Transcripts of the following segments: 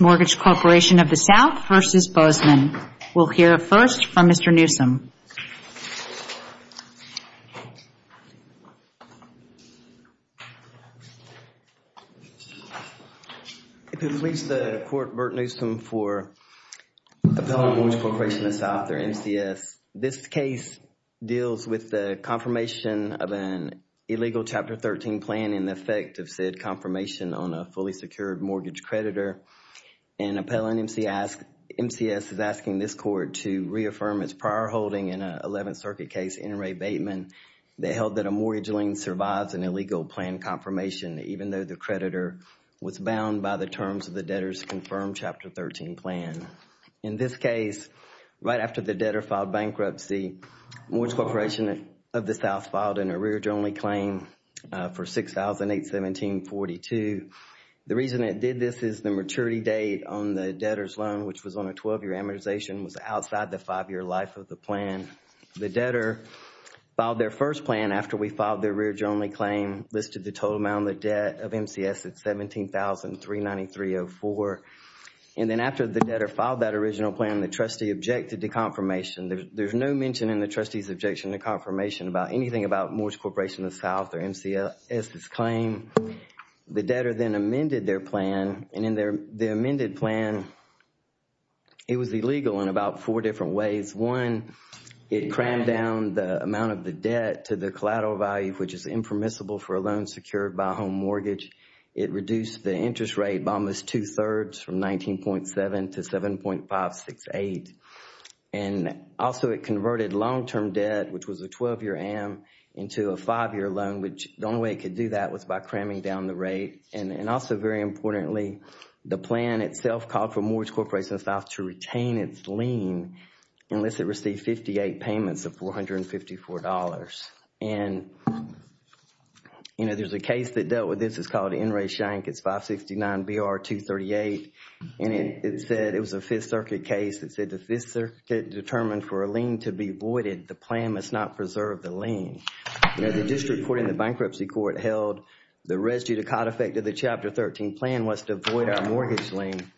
Mortgage Corporation of the South versus Bozeman. We'll hear first from Mr. Newsome. If you'll please the court, Burt Newsome for Appellant Mortgage Corporation of the South or MCS. This case deals with the confirmation of an illegal Chapter 13 plan in the effect of said confirmation on a fully secured mortgage creditor. An appellant MCS is asking this court to reaffirm its prior holding in an 11th Circuit case in Ray Bateman that held that a mortgage lien survives an illegal plan confirmation even though the creditor was bound by the terms of the debtor's confirmed Chapter 13 plan. In this case, right after the debtor filed bankruptcy, Mortgage Corporation of the South filed an arrearage-only claim for $6,817.42. The reason it did this is the maturity date on the debtor's loan, which was on a 12-year amortization, was outside the five-year life of the plan. The debtor filed their first plan after we filed their arrearage-only claim, listed the total amount of debt of MCS at $17,393.04. And then after the mentioned in the trustee's objection, the confirmation about anything about Mortgage Corporation of the South or MCS's claim, the debtor then amended their plan. And in their amended plan, it was illegal in about four different ways. One, it crammed down the amount of the debt to the collateral value, which is impermissible for a loan secured by a home mortgage. It reduced the interest rate by almost two-thirds from 19.7 to 7.568. And also, it converted long-term debt, which was a 12-year am, into a five-year loan, which the only way it could do that was by cramming down the rate. And also, very importantly, the plan itself called for Mortgage Corporation of the South to retain its lien unless it received 58 payments of $454. And, you know, there's a case that dealt with this. It's called N. Ray Shank. It's 569 BR-238. And it said, it was a Fifth Circuit case that said the Fifth Circuit determined for a lien to be voided. The plan must not preserve the lien. You know, the district court and the bankruptcy court held the residue to cot effect of the Chapter 13 plan was to void our mortgage lien.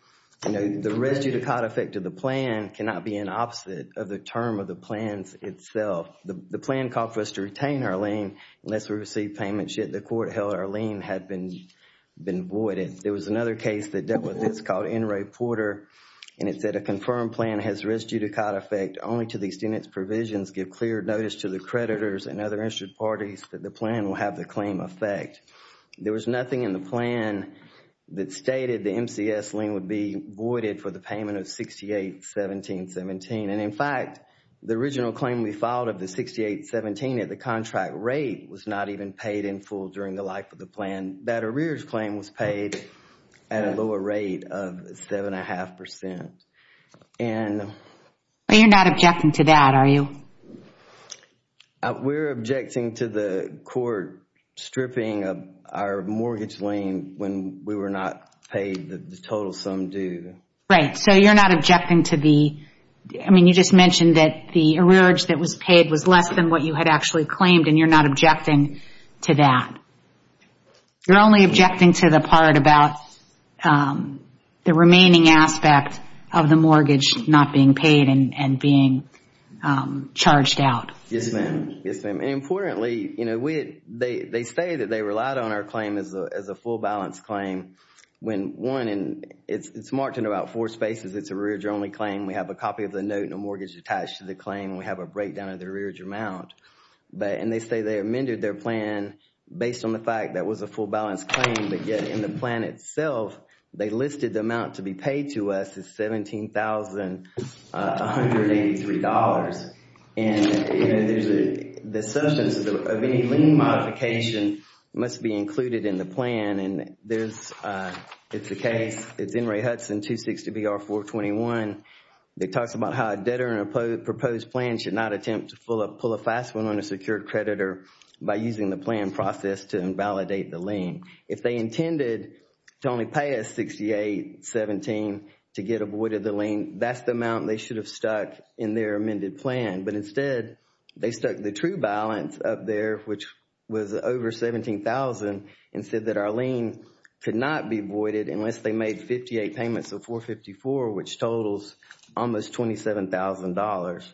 You know, the residue to cot effect of the plan cannot be an opposite of the term of the plan itself. The plan called for us to retain our lien unless we received payments, yet the court held our lien had been voided. There was another case that dealt with this called N. Ray Porter. And it said a confirmed plan has residue to cot effect only to the extent its provisions give clear notice to the creditors and other interested parties that the plan will have the claim effect. There was nothing in the plan that stated the MCS lien would be voided for the payment of 68-17-17. And in fact, the original claim we filed of the 68-17 at the contract rate was not even paid in full during the life of the plan. That arrears claim was paid at a lower rate of seven and a half percent. But you're not objecting to that, are you? We're objecting to the court stripping of our mortgage lien when we were not paid the total sum due. Right, so you're not objecting to I mean, you just mentioned that the arrearage that was paid was less than what you had actually claimed and you're not objecting to that. You're only objecting to the part about the remaining aspect of the mortgage not being paid and being charged out. Yes, ma'am. Yes, ma'am. And importantly, you know, they say that they relied on our claim as a full balance claim when one, and it's marked in about four spaces, it's an arrearage only claim. We have a copy of the note and a mortgage attached to the claim. We have a breakdown of the arrearage amount. And they say they amended their plan based on the fact that was a full balance claim. But yet in the plan itself, they listed the amount to be paid to us as $17,183. And, you know, there's the assumption of any lien modification must be included in the plan. And there's, it's a case, it's N. Ray Hudson, 260BR421. It talks about how a debtor in a proposed plan should not attempt to pull a fast one on a secured creditor by using the plan process to invalidate the lien. If they intended to only pay us $68,017 to get avoided the lien, that's the amount they should have stuck in their amended plan. But instead, they stuck the true balance up there, which was over $17,000, and said that our lien could not be voided unless they made 58 payments of 454, which totals almost $27,000.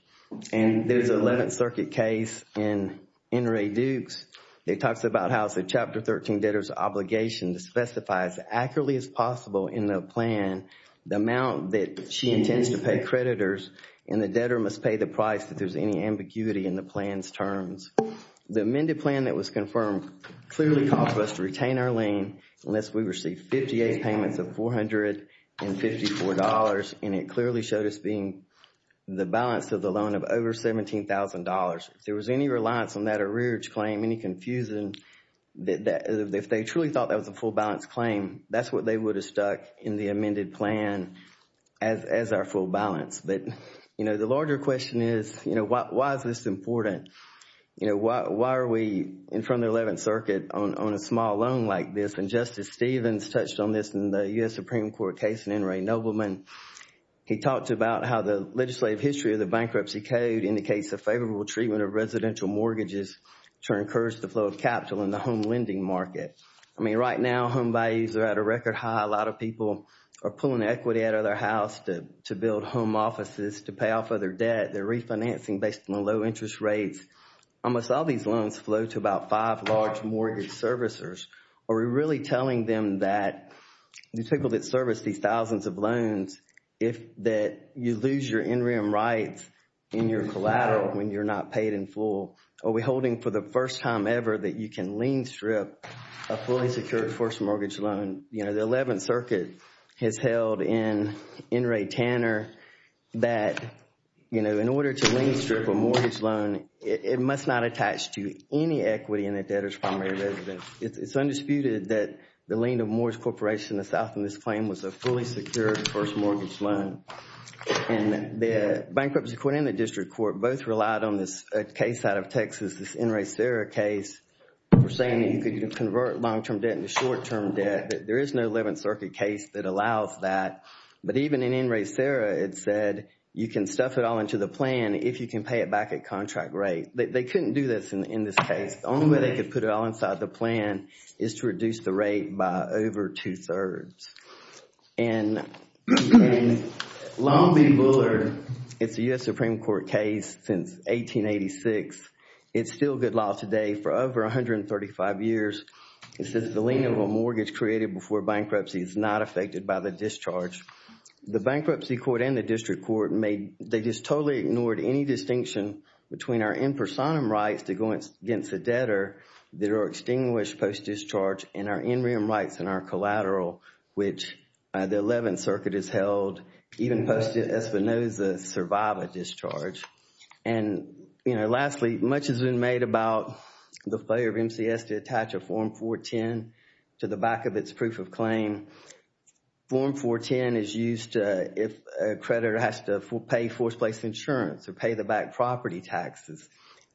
And there's an 11th Circuit case in N. Ray Dukes. It talks about how it's a Chapter 13 debtor's obligation to specify as accurately as possible in the plan, the amount that she and the debtor must pay the price if there's any ambiguity in the plan's terms. The amended plan that was confirmed clearly called for us to retain our lien unless we received 58 payments of $454. And it clearly showed us being the balance of the loan of over $17,000. If there was any reliance on that arrearage claim, any confusion, if they truly thought that was a full balance claim, that's what they would have stuck in the amended plan as our full balance. But, you know, the larger question is, you know, why is this important? You know, why are we in front of the 11th Circuit on a small loan like this? And Justice Stevens touched on this in the U.S. Supreme Court case in N. Ray Nobleman. He talked about how the legislative history of the bankruptcy code indicates a favorable treatment of residential mortgages to encourage the flow of capital in the home lending market. I mean, right now, home values are at a record high. A lot of people are pulling equity out of their house to build home offices, to pay off other debt. They're refinancing based on low interest rates. Almost all these loans flow to about five large mortgage servicers. Are we really telling them that these people that service these thousands of loans, if that you lose your in-rem rights in your collateral when you're not paid in full, are we holding for the first time ever that you can lien strip a fully secured forced mortgage loan? You know, the 11th Circuit has held in N. Ray Tanner that, you know, in order to lien strip a mortgage loan, it must not attach to any equity in a debtor's primary residence. It's undisputed that the lien of a mortgage corporation in the South in this claim was a fully secured forced mortgage loan. And the bankruptcy court and the district court both relied on this case out of Texas, this N. Ray Serra case, for saying that you could convert long-term debt into short-term debt. There is no 11th Circuit case that allows that. But even in N. Ray Serra, it said you can stuff it all into the plan if you can pay it back at contract rate. They couldn't do this in this case. The only way they could put it all inside the plan is to reduce the rate by over two-thirds. And in Long Beach Bullard, it's a U.S. Supreme Court case since 1886. It's still good law today for over 135 years. It says the lien of a mortgage created before bankruptcy is not affected by the discharge. The bankruptcy court and the district court made, they just totally ignored any distinction between our in personam rights to go against a debtor that are extinguished post-discharge and our in rem rights and our collateral, which the 11th Circuit has held, even posted Espinoza's survivor discharge. And, you know, lastly, much has been made about the failure of MCS to attach a Form 410 to the back of its proof of claim. Form 410 is used if a creditor has to pay forced place insurance or pay the back property taxes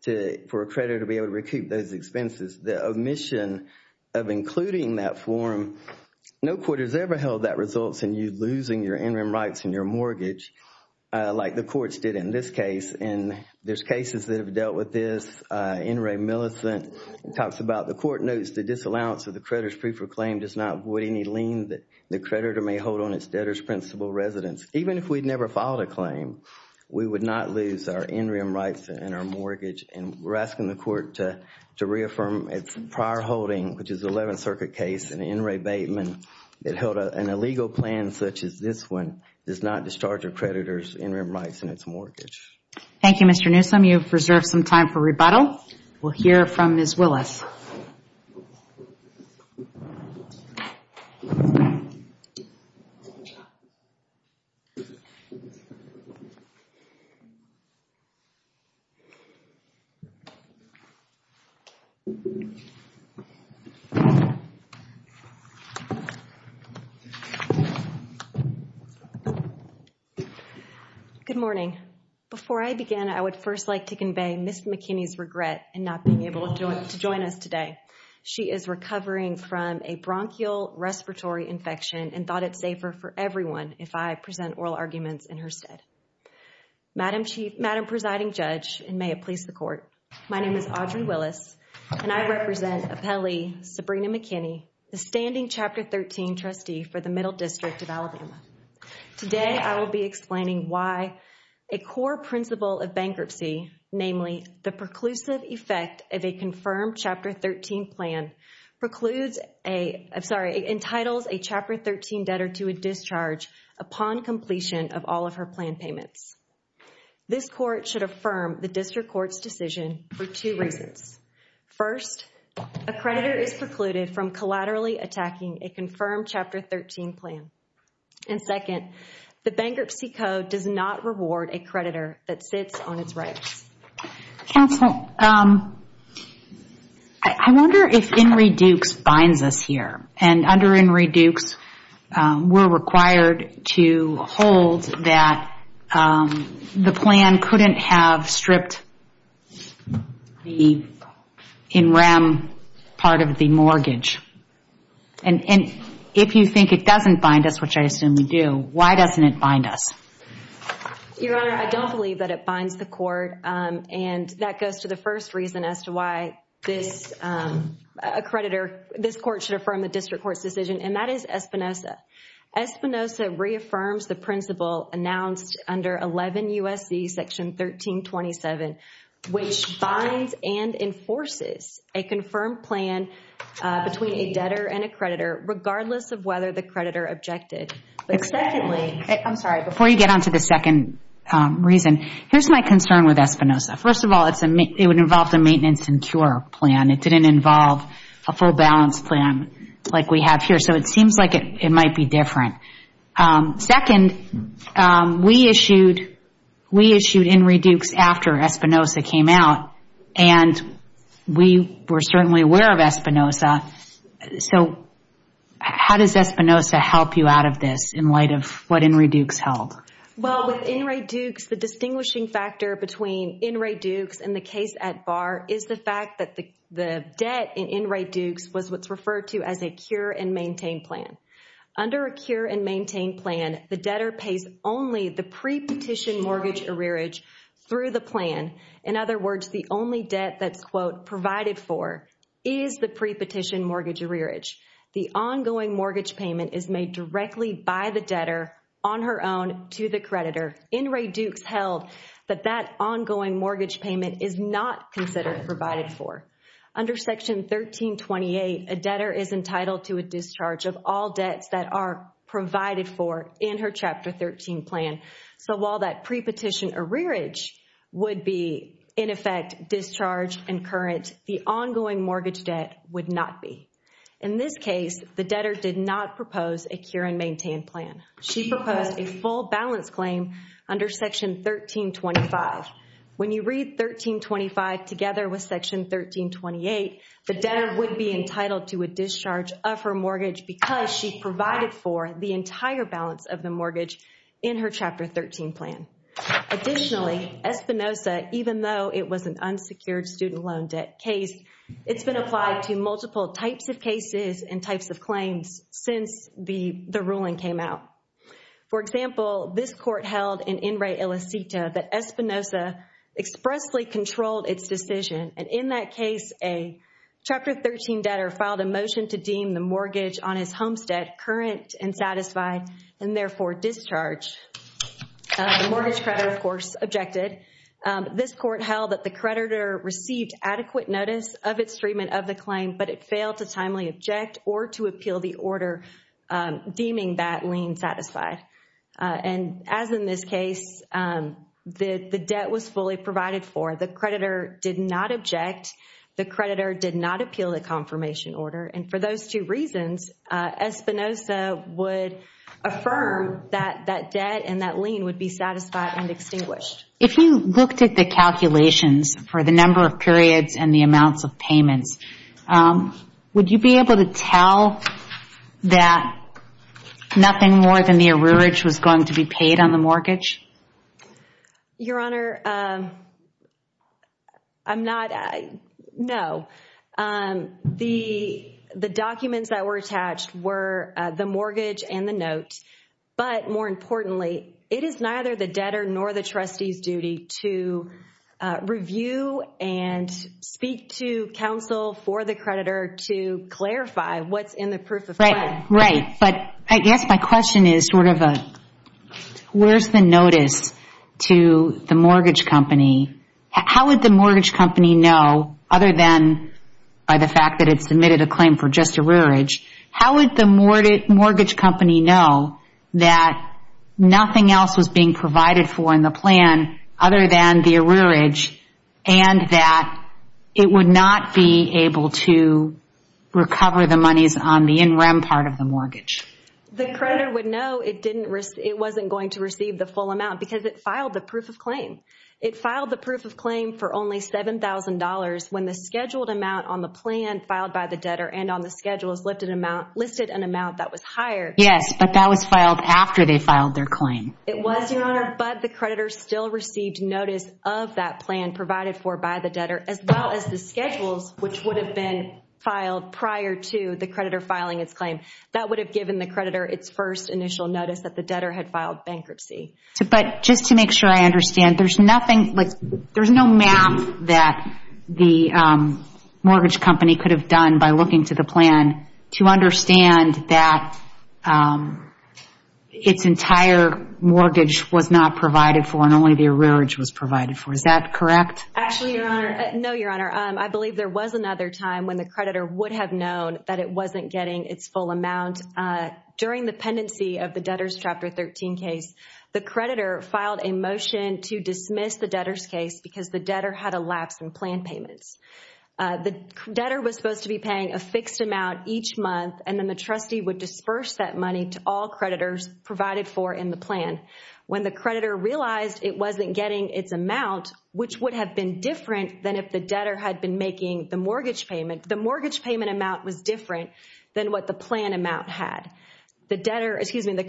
for a creditor to be able to recoup those expenses. The omission of including that form, no court has ever held that results in you losing your in rem rights and your mortgage like the courts did in this case. And there's cases that have dealt with this. N. Ray Millicent talks about the court notes the disallowance of the creditor's proof of claim does not avoid any lien that the creditor may hold on its debtor's principal residence. Even if we'd never filed a claim, we would not lose our in rem rights and our mortgage. And we're asking the court to reaffirm its prior holding, which is the 11th Circuit case, and N. Ray Bateman, that held an illegal plan such as this one does not discharge a creditor's in rem rights and its mortgage. Thank you, Mr. Newsome. You've reserved some time for rebuttal. We'll hear from Ms. Willis. Good morning. Before I begin, I would first like to convey Ms. McKinney's regret in not being able to join us today. She is recovering from a bronchial respiratory infection and thought it's safer for everyone if I present oral arguments in her stead. Madam Presiding Judge, and may it please the Court, my name is Audrey Willis, and I represent Appellee Sabrina McKinney, the standing Chapter 13 trustee for the Middle District of Alabama. Today, I will be explaining why a core principle of bankruptcy, namely the preclusive effect of a confirmed Chapter 13 plan, precludes a, I'm sorry, entitles a Chapter 13 debtor to a discharge upon completion of all of her plan payments. This Court should affirm the District Court's decision for two reasons. First, a creditor is precluded from collaterally attacking a confirmed Chapter 13 plan. And second, the Bankruptcy Code does not reward a creditor that sits on its rights. Counsel, I wonder if Henry Dukes binds us here. And under Henry Dukes, we're required to hold that the plan couldn't have stripped the in rem part of the mortgage. And if you think it doesn't bind us, which I assume we do, why doesn't it bind us? Your Honor, I don't believe that it binds the and that goes to the first reason as to why this creditor, this Court should affirm the District Court's decision, and that is Espinoza. Espinoza reaffirms the principle announced under 11 U.S.C. Section 1327, which binds and enforces a confirmed plan between a debtor and a creditor, regardless of whether the creditor objected. But secondly, I'm sorry, before you get onto the second reason, here's my concern with Espinoza. First of all, it would involve the maintenance and cure plan. It didn't involve a full balance plan like we have here. So it seems like it might be different. Second, we issued Henry Dukes after Espinoza came out, and we were certainly aware of Espinoza. So how does Espinoza help you out of this in light of what Henry Dukes held? Well, with Henry Dukes, the distinguishing factor between Henry Dukes and the case at Barr is the fact that the debt in Henry Dukes was what's referred to as a cure and maintain plan. Under a cure and maintain plan, the debtor pays only the pre-petition mortgage arrearage through the plan. In other words, the only debt that's, quote, provided for is the pre-petition mortgage arrearage. The ongoing mortgage payment is made directly by the debtor on her own to the creditor. Henry Dukes held that that ongoing mortgage payment is not considered provided for. Under Section 1328, a debtor is entitled to a discharge of all debts that are provided for in her Chapter 13 plan. So while that pre-petition arrearage would be, in effect, discharged and current, the ongoing mortgage debt would not be. In this case, the debtor did not propose a cure and maintain plan. She proposed a full balance claim under Section 1325. When you read 1325 together with Section 1328, the debtor would be entitled to a discharge of her mortgage because she provided for the entire balance of the mortgage in her Chapter 13 plan. Additionally, Espinosa, even though it was an unsecured student loan debt case, it's been applied to multiple types of cases and types of claims since the ruling came out. For example, this court held in In re Ilicita that Espinosa expressly controlled its decision. And in that case, a Chapter 13 debtor filed a motion to deem the mortgage on his homestead current and satisfied and therefore discharged. The mortgage creditor, of course, objected. This court held that the creditor received adequate notice of its treatment of the claim, but it failed to timely object or to appeal the order deeming that lien satisfied. And as in this case, the debt was fully provided for. The creditor did not object. The creditor did not appeal the confirmation order. And for those two reasons, Espinosa would affirm that that debt and that lien would be satisfied and extinguished. If you looked at the calculations for the number of periods and the amounts of payments, would you be able to tell that nothing more than the arrearage was going to be paid on the mortgage? Your Honor, I'm not, no. The documents that were attached were the mortgage and the note. But more importantly, it is neither the debtor nor the trustee's duty to review and speak to counsel for the creditor to clarify what's in the proof of claim. Right. But I guess my question is sort of a, where's the notice to the mortgage company? How would the mortgage company know, other than by the fact that it submitted a claim for just arrearage, how would the mortgage company know that nothing else was being provided for in the plan other than the arrearage and that it would not be able to recover the monies on the in-rem part of the mortgage? The creditor would know it wasn't going to receive the full amount because it filed the proof of claim. It filed the proof of claim for only $7,000 when the scheduled amount on the plan filed by the debtor and on the schedules listed an amount that was higher. Yes, but that was filed after they filed their claim. It was, Your Honor, but the creditor still received notice of that plan provided for by debtor as well as the schedules which would have been filed prior to the creditor filing its claim. That would have given the creditor its first initial notice that the debtor had filed bankruptcy. But just to make sure I understand, there's nothing, like, there's no map that the mortgage company could have done by looking to the plan to understand that its entire mortgage was not provided for and only the arrearage was provided for. Is that correct? Actually, Your Honor, no, Your Honor, I believe there was another time when the creditor would have known that it wasn't getting its full amount. During the pendency of the debtor's Chapter 13 case, the creditor filed a motion to dismiss the debtor's case because the debtor had a lapse in plan payments. The debtor was supposed to be paying a fixed amount each month and then the trustee would disperse that money to all creditors provided for in the plan. When the creditor realized it wasn't getting its amount, which would have been different than if the debtor had been making the mortgage payment, the mortgage payment amount was different than what the plan amount had. The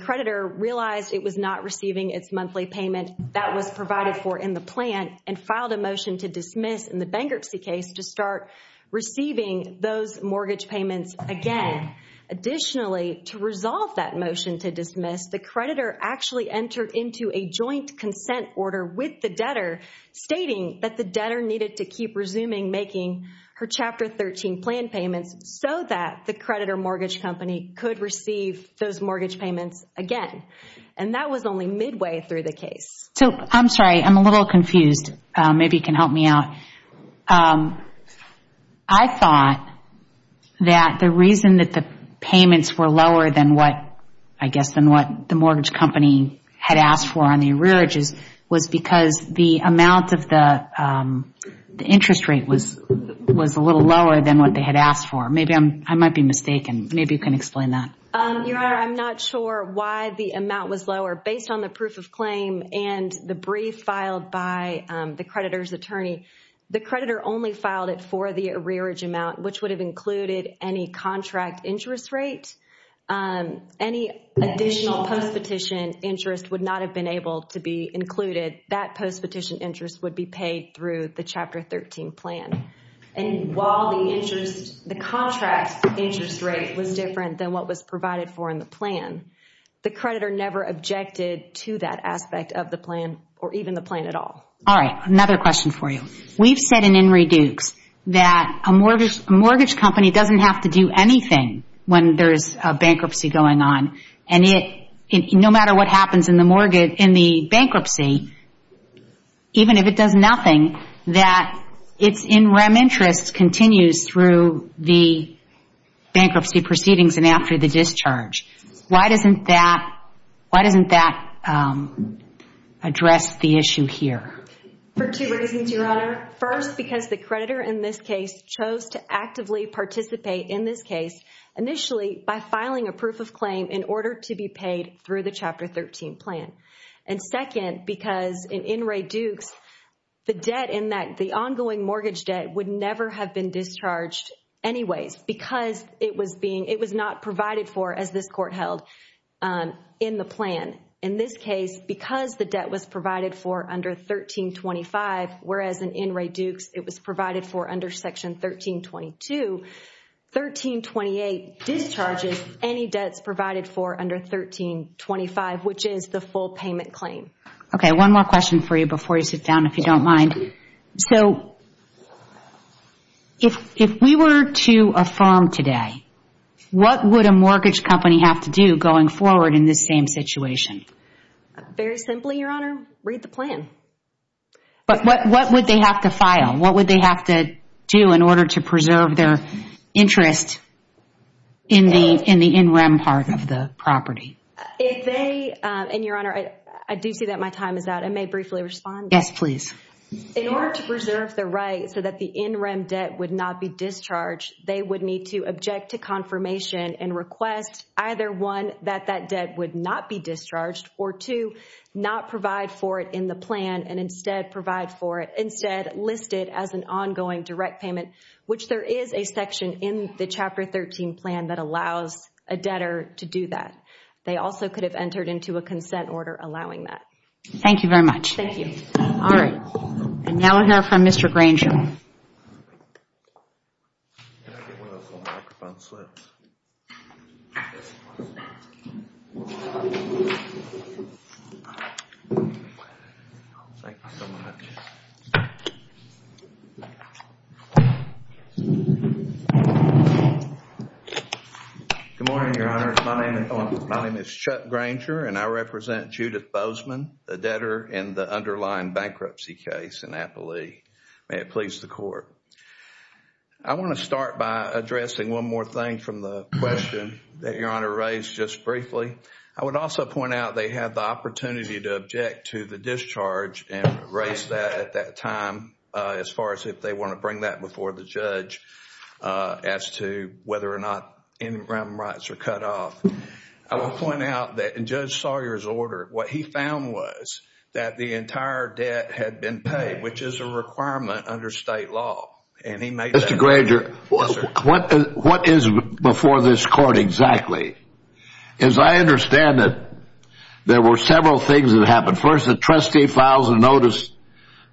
creditor realized it was not receiving its monthly payment that was provided for in the plan and filed a motion to dismiss in the bankruptcy case to start receiving those mortgage payments again. Additionally, to resolve that motion to dismiss, the creditor actually entered into a consent order with the debtor stating that the debtor needed to keep resuming making her Chapter 13 plan payments so that the creditor mortgage company could receive those mortgage payments again. That was only midway through the case. I'm sorry. I'm a little confused. Maybe you can help me out. I thought that the reason that the payments were lower than what, I guess, than what the mortgage company had asked for on the arrearages was because the amount of the interest rate was a little lower than what they had asked for. I might be mistaken. Maybe you can explain that. Your Honor, I'm not sure why the amount was lower. Based on the proof of claim and the brief filed by the creditor's attorney, the creditor only filed it for the arrearage amount, which would have included any contract interest rate. Any additional post-petition interest would not have been able to be included. That post-petition interest would be paid through the Chapter 13 plan. While the contract interest rate was different than what was provided for in the plan, the creditor never objected to that aspect of the plan or even the plan at all. Another question for you. We've said in Henry Dukes that a mortgage company doesn't have to do anything when there's a bankruptcy going on. No matter what happens in the bankruptcy, even if it does nothing, that its in-rem interest continues through the bankruptcy proceedings and the discharge. Why doesn't that address the issue here? For two reasons, Your Honor. First, because the creditor in this case chose to actively participate in this case initially by filing a proof of claim in order to be paid through the Chapter 13 plan. Second, because in Henry Dukes, the debt in that, the ongoing mortgage debt, would never have been discharged anyways because it was not provided for as this Court held in the plan. In this case, because the debt was provided for under 1325, whereas in Henry Dukes it was provided for under Section 1322, 1328 discharges any debts provided for under 1325, which is the full payment claim. Okay, one more question for you before you sit down if you don't mind. So, if we were to affirm today, what would a mortgage company have to do going forward in this same situation? Very simply, Your Honor, read the plan. But what would they have to file? What would they have to do in order to preserve their interest in the in-rem part of the property? If they, and Your Honor, I do see that my time is out. I may briefly respond. Yes, please. In order to preserve the right so that the in-rem debt would not be discharged, they would need to object to confirmation and request either one, that that debt would not be discharged, or two, not provide for it in the plan and instead provide for it, instead list it as an ongoing direct payment, which there is a section in the Chapter 13 plan that allows a debtor to do that. They also could have entered into a consent order allowing that. Thank you very much. Thank you. All right, and now we'll hear from Mr. Granger. Good morning, Your Honor. My name is Chuck Granger, and I represent Judith Bozeman, the debtor in the underlying bankruptcy case in Appalee. May it please the Court. I want to start by addressing one more thing from the question that Your Honor raised just briefly. I would also point out they have the opportunity to object to the discharge and raise that at that time as far as if they want to bring that before the judge as to whether or not in-rem rights are cut off. I will point out that in Judge Sawyer's order, what he found was that the entire debt had been paid, which is a requirement under state law, and he made that- Mr. Granger, what is before this Court exactly? As I understand it, there were several things that happened. First, the trustee files a notice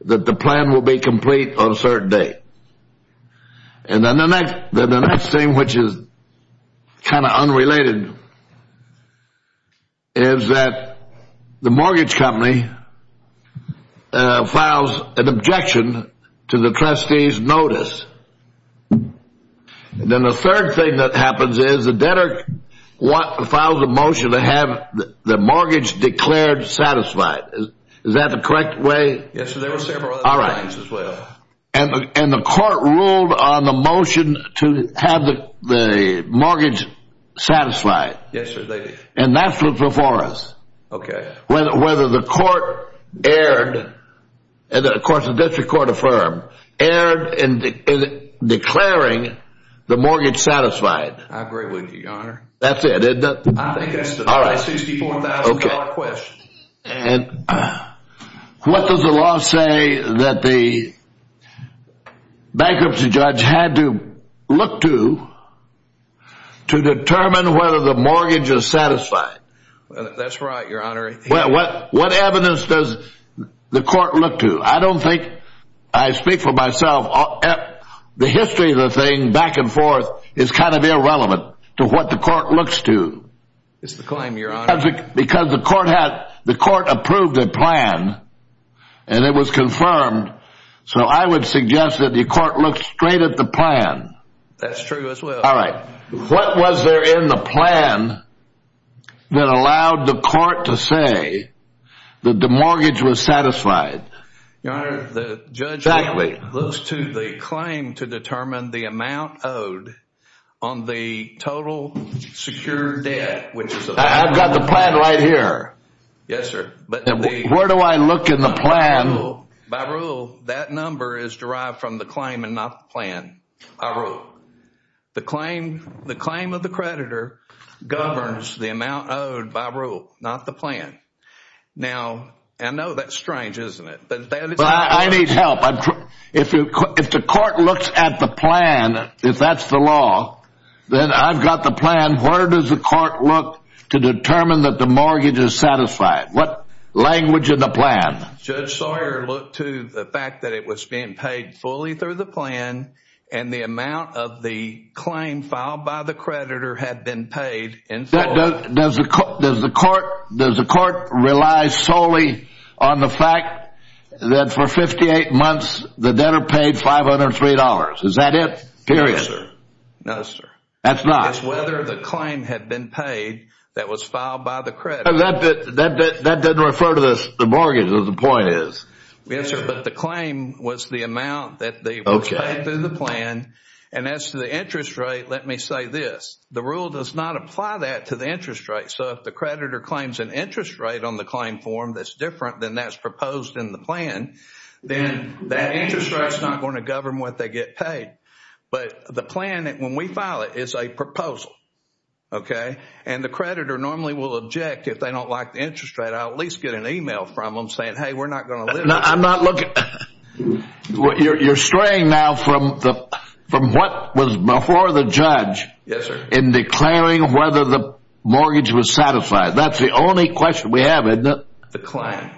that the plan will be complete on a certain date. And then the next thing, which is kind of unrelated, is that the mortgage company files an objection to the trustee's notice. Then the third thing that happens is the debtor files a motion to have the mortgage declared satisfied. Is that the correct way? Yes, there were several other things as well. And the Court ruled on the motion to have the mortgage satisfied. Yes, sir, they did. And that's what's before us. Okay. Whether the Court erred, and of course the District Court affirmed, erred in declaring the mortgage satisfied. I agree with you, Your Honor. That's it, isn't it? I think that's the $64,000 question. And what does the law say that the bankruptcy judge had to look to to determine whether the mortgage is satisfied? That's right, Your Honor. What evidence does the Court look to? I don't think, I speak for myself, the history of the thing back and forth is kind of irrelevant to what the Court looks to. It's the claim, Your Honor. Because the Court approved a plan, and it was confirmed, so I would suggest that the Court look straight at the plan. That's true as well. All right. What was there in the plan that allowed the Court to say that the mortgage was satisfied? Your Honor, the judge looks to the claim to determine the amount owed on the total secured debt, which is... I've got the plan right here. Yes, sir. But where do I look in the plan? By rule, that number is derived from the claim and not the plan. The claim of the creditor governs the amount owed by rule, not the plan. Now, I know that's strange, isn't it? But I need help. If the Court looks at the plan, if that's the law, then I've got the plan. Where does the Court look to determine that the mortgage is satisfied? What language in the plan? Judge Sawyer looked to the fact that it was being paid fully through the plan, and the amount of the claim filed by the creditor had been paid in full. Does the Court rely solely on the fact that for 58 months, the debtor paid $503? Is that it? Period. No, sir. That's not. It's whether the claim had been paid that was filed by the creditor. That doesn't refer to the mortgage, is what the point is. Yes, sir, but the claim was the amount that they paid through the plan. And as to the interest rate, let me say this. The rule does not apply that to the interest rate. So if the creditor claims an interest rate on the claim form that's different than that's proposed in the plan, then that interest rate is not going to govern what they get paid. But the plan, when we file it, is a proposal. Okay? And the creditor normally will object if they don't like the interest rate. I'll at least get an email from them saying, hey, we're not going to limit it. I'm not looking. You're straying now from what was before the judge. Yes, sir. In declaring whether the mortgage was satisfied. That's the only question we have, isn't it? The claim.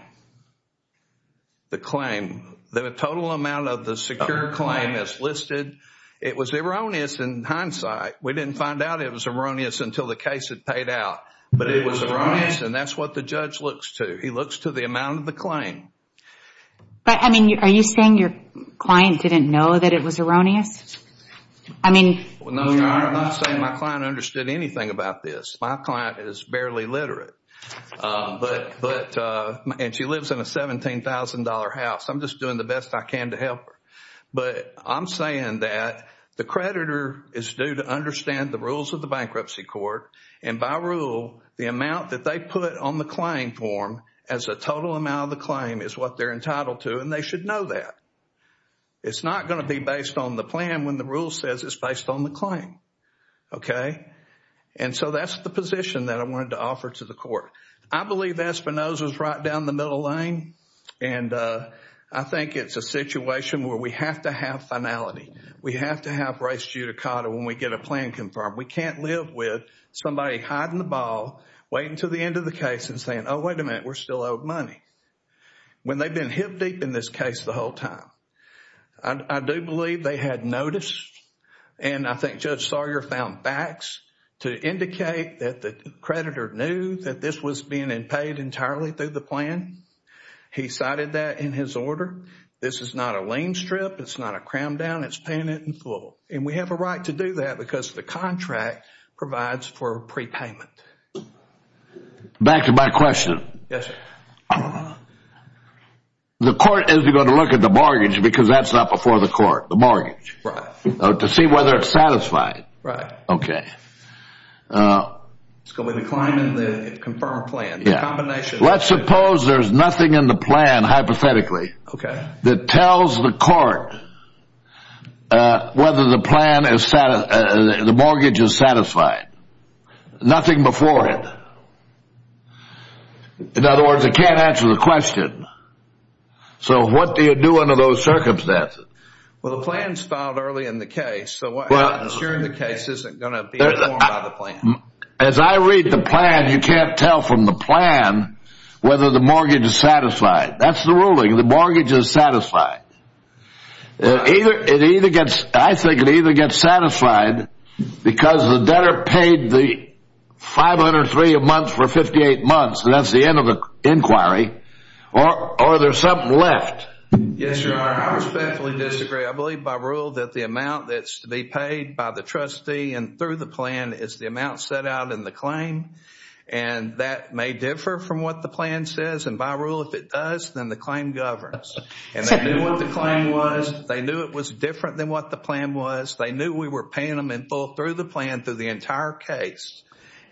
The claim. The total amount of the secured claim is listed. It was erroneous in hindsight. We didn't find out it was erroneous until the case had paid out. But it was erroneous, and that's what the judge looks to. He looks to the amount of the claim. But, I mean, are you saying your client didn't know that it was erroneous? I mean. No, Your Honor, I'm not saying my client understood anything about this. My client is barely literate. But, and she lives in a $17,000 house. I'm just doing the best I can to help her. But I'm saying that the creditor is due to understand the rules of the bankruptcy court. And by rule, the amount that they put on the claim form as a total amount of the claim is what they're entitled to. And they should know that. It's not going to be based on the plan when the rule says it's based on the claim. Okay? And so that's the position that I wanted to offer to the court. I believe Espinoza is right down the middle lane. And I think it's a situation where we have to have finality. We have to have res judicata when we get a plan confirmed. We can't live with somebody hiding the ball, waiting until the end of the case and saying, oh, wait a minute, we're still owed money. When they've been hip deep in this case the whole time. I do believe they had noticed. And I think Judge Sawyer found facts to indicate that the creditor knew that this was being paid entirely through the plan. He cited that in his order. This is not a lien strip. It's not a cram down. It's paying it in full. And we have a right to do that because the contract provides for prepayment. Back to my question. Yes, sir. The court is going to look at the mortgage because that's not before the court, the mortgage. Right. To see whether it's satisfied. Right. Okay. Uh, it's going to climb in the confirm plan. Yeah. Let's suppose there's nothing in the plan, hypothetically. Okay. That tells the court whether the plan is the mortgage is satisfied. Nothing before it. In other words, it can't answer the question. So what do you do under those circumstances? Well, the plan is filed early in the case. Assuring the case isn't going to be informed by the plan. As I read the plan, you can't tell from the plan whether the mortgage is satisfied. That's the ruling. The mortgage is satisfied. I think it either gets satisfied because the debtor paid the 503 a month for 58 months. And that's the end of the inquiry. Or there's something left. Yes, your honor. I respectfully disagree. I believe by rule that the amount that's to be paid by the trustee and through the plan is the amount set out in the claim. And that may differ from what the plan says. And by rule, if it does, then the claim governs. And they knew what the claim was. They knew it was different than what the plan was. They knew we were paying them in full through the plan through the entire case.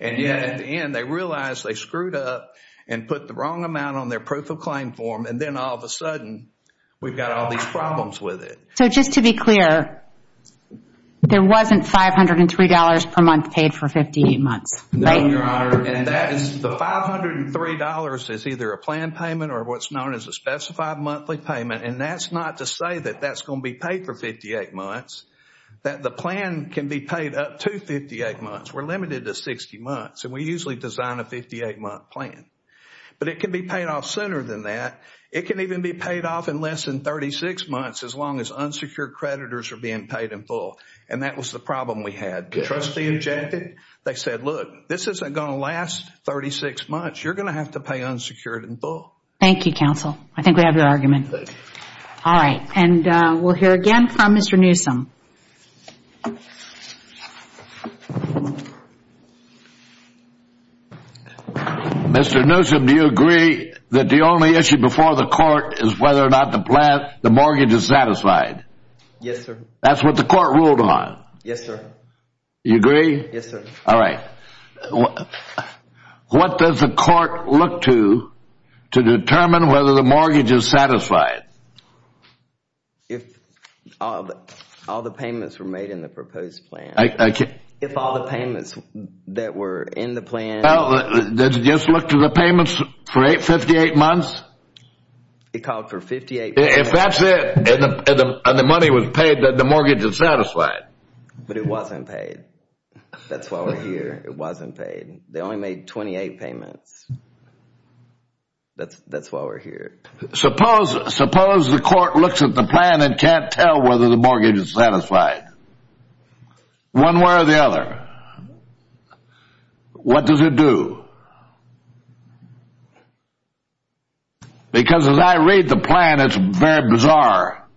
And yet at the end, they realized they screwed up and put the wrong amount on their proof of claim form. And then all of a sudden, we've got all these problems with it. So just to be clear, there wasn't $503 per month paid for 58 months, right? No, your honor. And that is the $503 is either a plan payment or what's known as a specified monthly payment. And that's not to say that that's going to be paid for 58 months. That the plan can be paid up to 58 months. We're limited to 60 months. And we usually design a 58-month plan. But it can be paid off sooner than that. It can even be paid off in less than 36 months, as long as unsecured creditors are being paid in full. And that was the problem we had. The trustee objected. They said, look, this isn't going to last 36 months. You're going to have to pay unsecured in full. Thank you, counsel. I think we have your argument. All right. And we'll hear again from Mr. Newsom. Mr. Newsom, do you agree that the only issue before the court is whether or not the mortgage is satisfied? Yes, sir. That's what the court ruled on. Yes, sir. You agree? Yes, sir. All right. If I'll just say, if all the payments were made in the proposed plan, if all the payments that were in the plan— Well, did it just look to the payments for 58 months? It called for 58— If that's it, and the money was paid, then the mortgage is satisfied. But it wasn't paid. That's why we're here. It wasn't paid. They only made 28 payments. That's why we're here. Suppose the court looks at the plan and can't tell whether the mortgage is satisfied, one way or the other. What does it do? Because as I read the plan, it's very bizarre.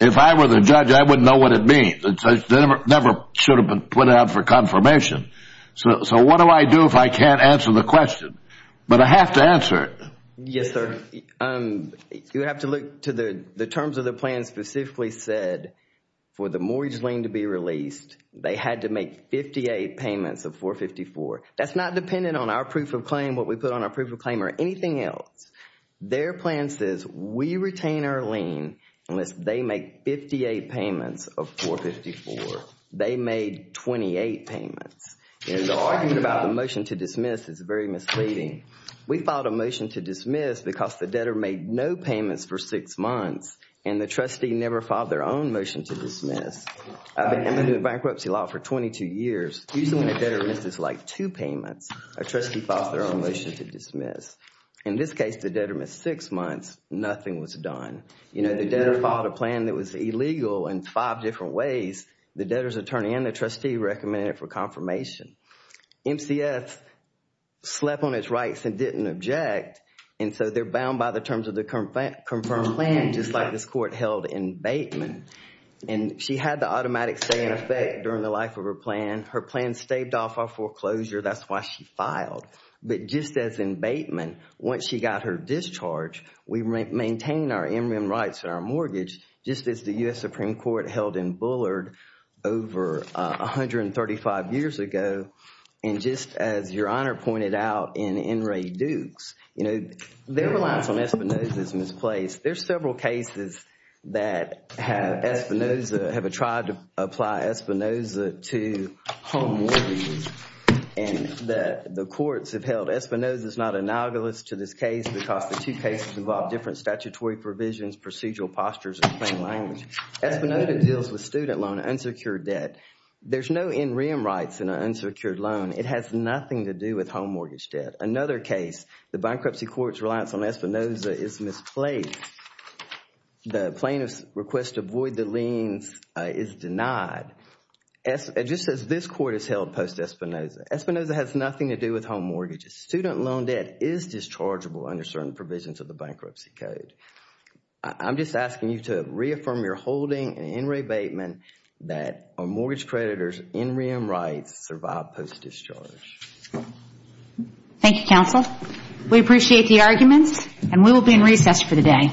If I were the judge, I wouldn't know what it means. It never should have been put out for confirmation. So what do I do if I can't answer the question? But I have to answer it. Yes, sir. Um, you have to look to the terms of the plan specifically said for the mortgage lien to be released, they had to make 58 payments of 454. That's not dependent on our proof of claim, what we put on our proof of claim or anything else. Their plan says we retain our lien unless they make 58 payments of 454. They made 28 payments. And the argument about the motion to dismiss is very misleading. We filed a motion to dismiss because the debtor made no payments for six months and the trustee never filed their own motion to dismiss. I've been doing bankruptcy law for 22 years. Usually when a debtor misses like two payments, a trustee files their own motion to dismiss. In this case, the debtor missed six months. Nothing was done. You know, the debtor filed a plan that was illegal in five different ways. The debtor's attorney and the trustee recommended it for confirmation. MCS slept on its rights and didn't object. And so they're bound by the terms of the confirmed plan, just like this court held in Bateman. And she had the automatic stay in effect during the life of her plan. Her plan staved off our foreclosure. That's why she filed. But just as in Bateman, once she got her discharge, we maintained our inrim rights and our mortgage just as the U.S. Supreme Court held in Bullard over 135 years ago. And just as Your Honor pointed out in Enright-Dukes, you know, there were lines on Espinoza's misplaced. There's several cases that have Espinoza, have tried to apply Espinoza to home mortgages. And the courts have held Espinoza is not a novelist to this case because the two cases involve different statutory provisions, procedural postures, and plain language. Espinoza deals with student loan, unsecured debt. There's no inrim rights in an unsecured loan. It has nothing to do with home mortgage debt. Another case, the bankruptcy court's reliance on Espinoza is misplaced. The plaintiff's request to avoid the liens is denied. Just as this court has held post-Espinoza. Espinoza has nothing to do with home mortgages. Student loan debt is dischargeable under certain provisions of the bankruptcy code. I'm just asking you to reaffirm your holding and in rebatement that our mortgage creditors' inrim rights survive post-discharge. Thank you, counsel. We appreciate the arguments and we will be in recess for the day.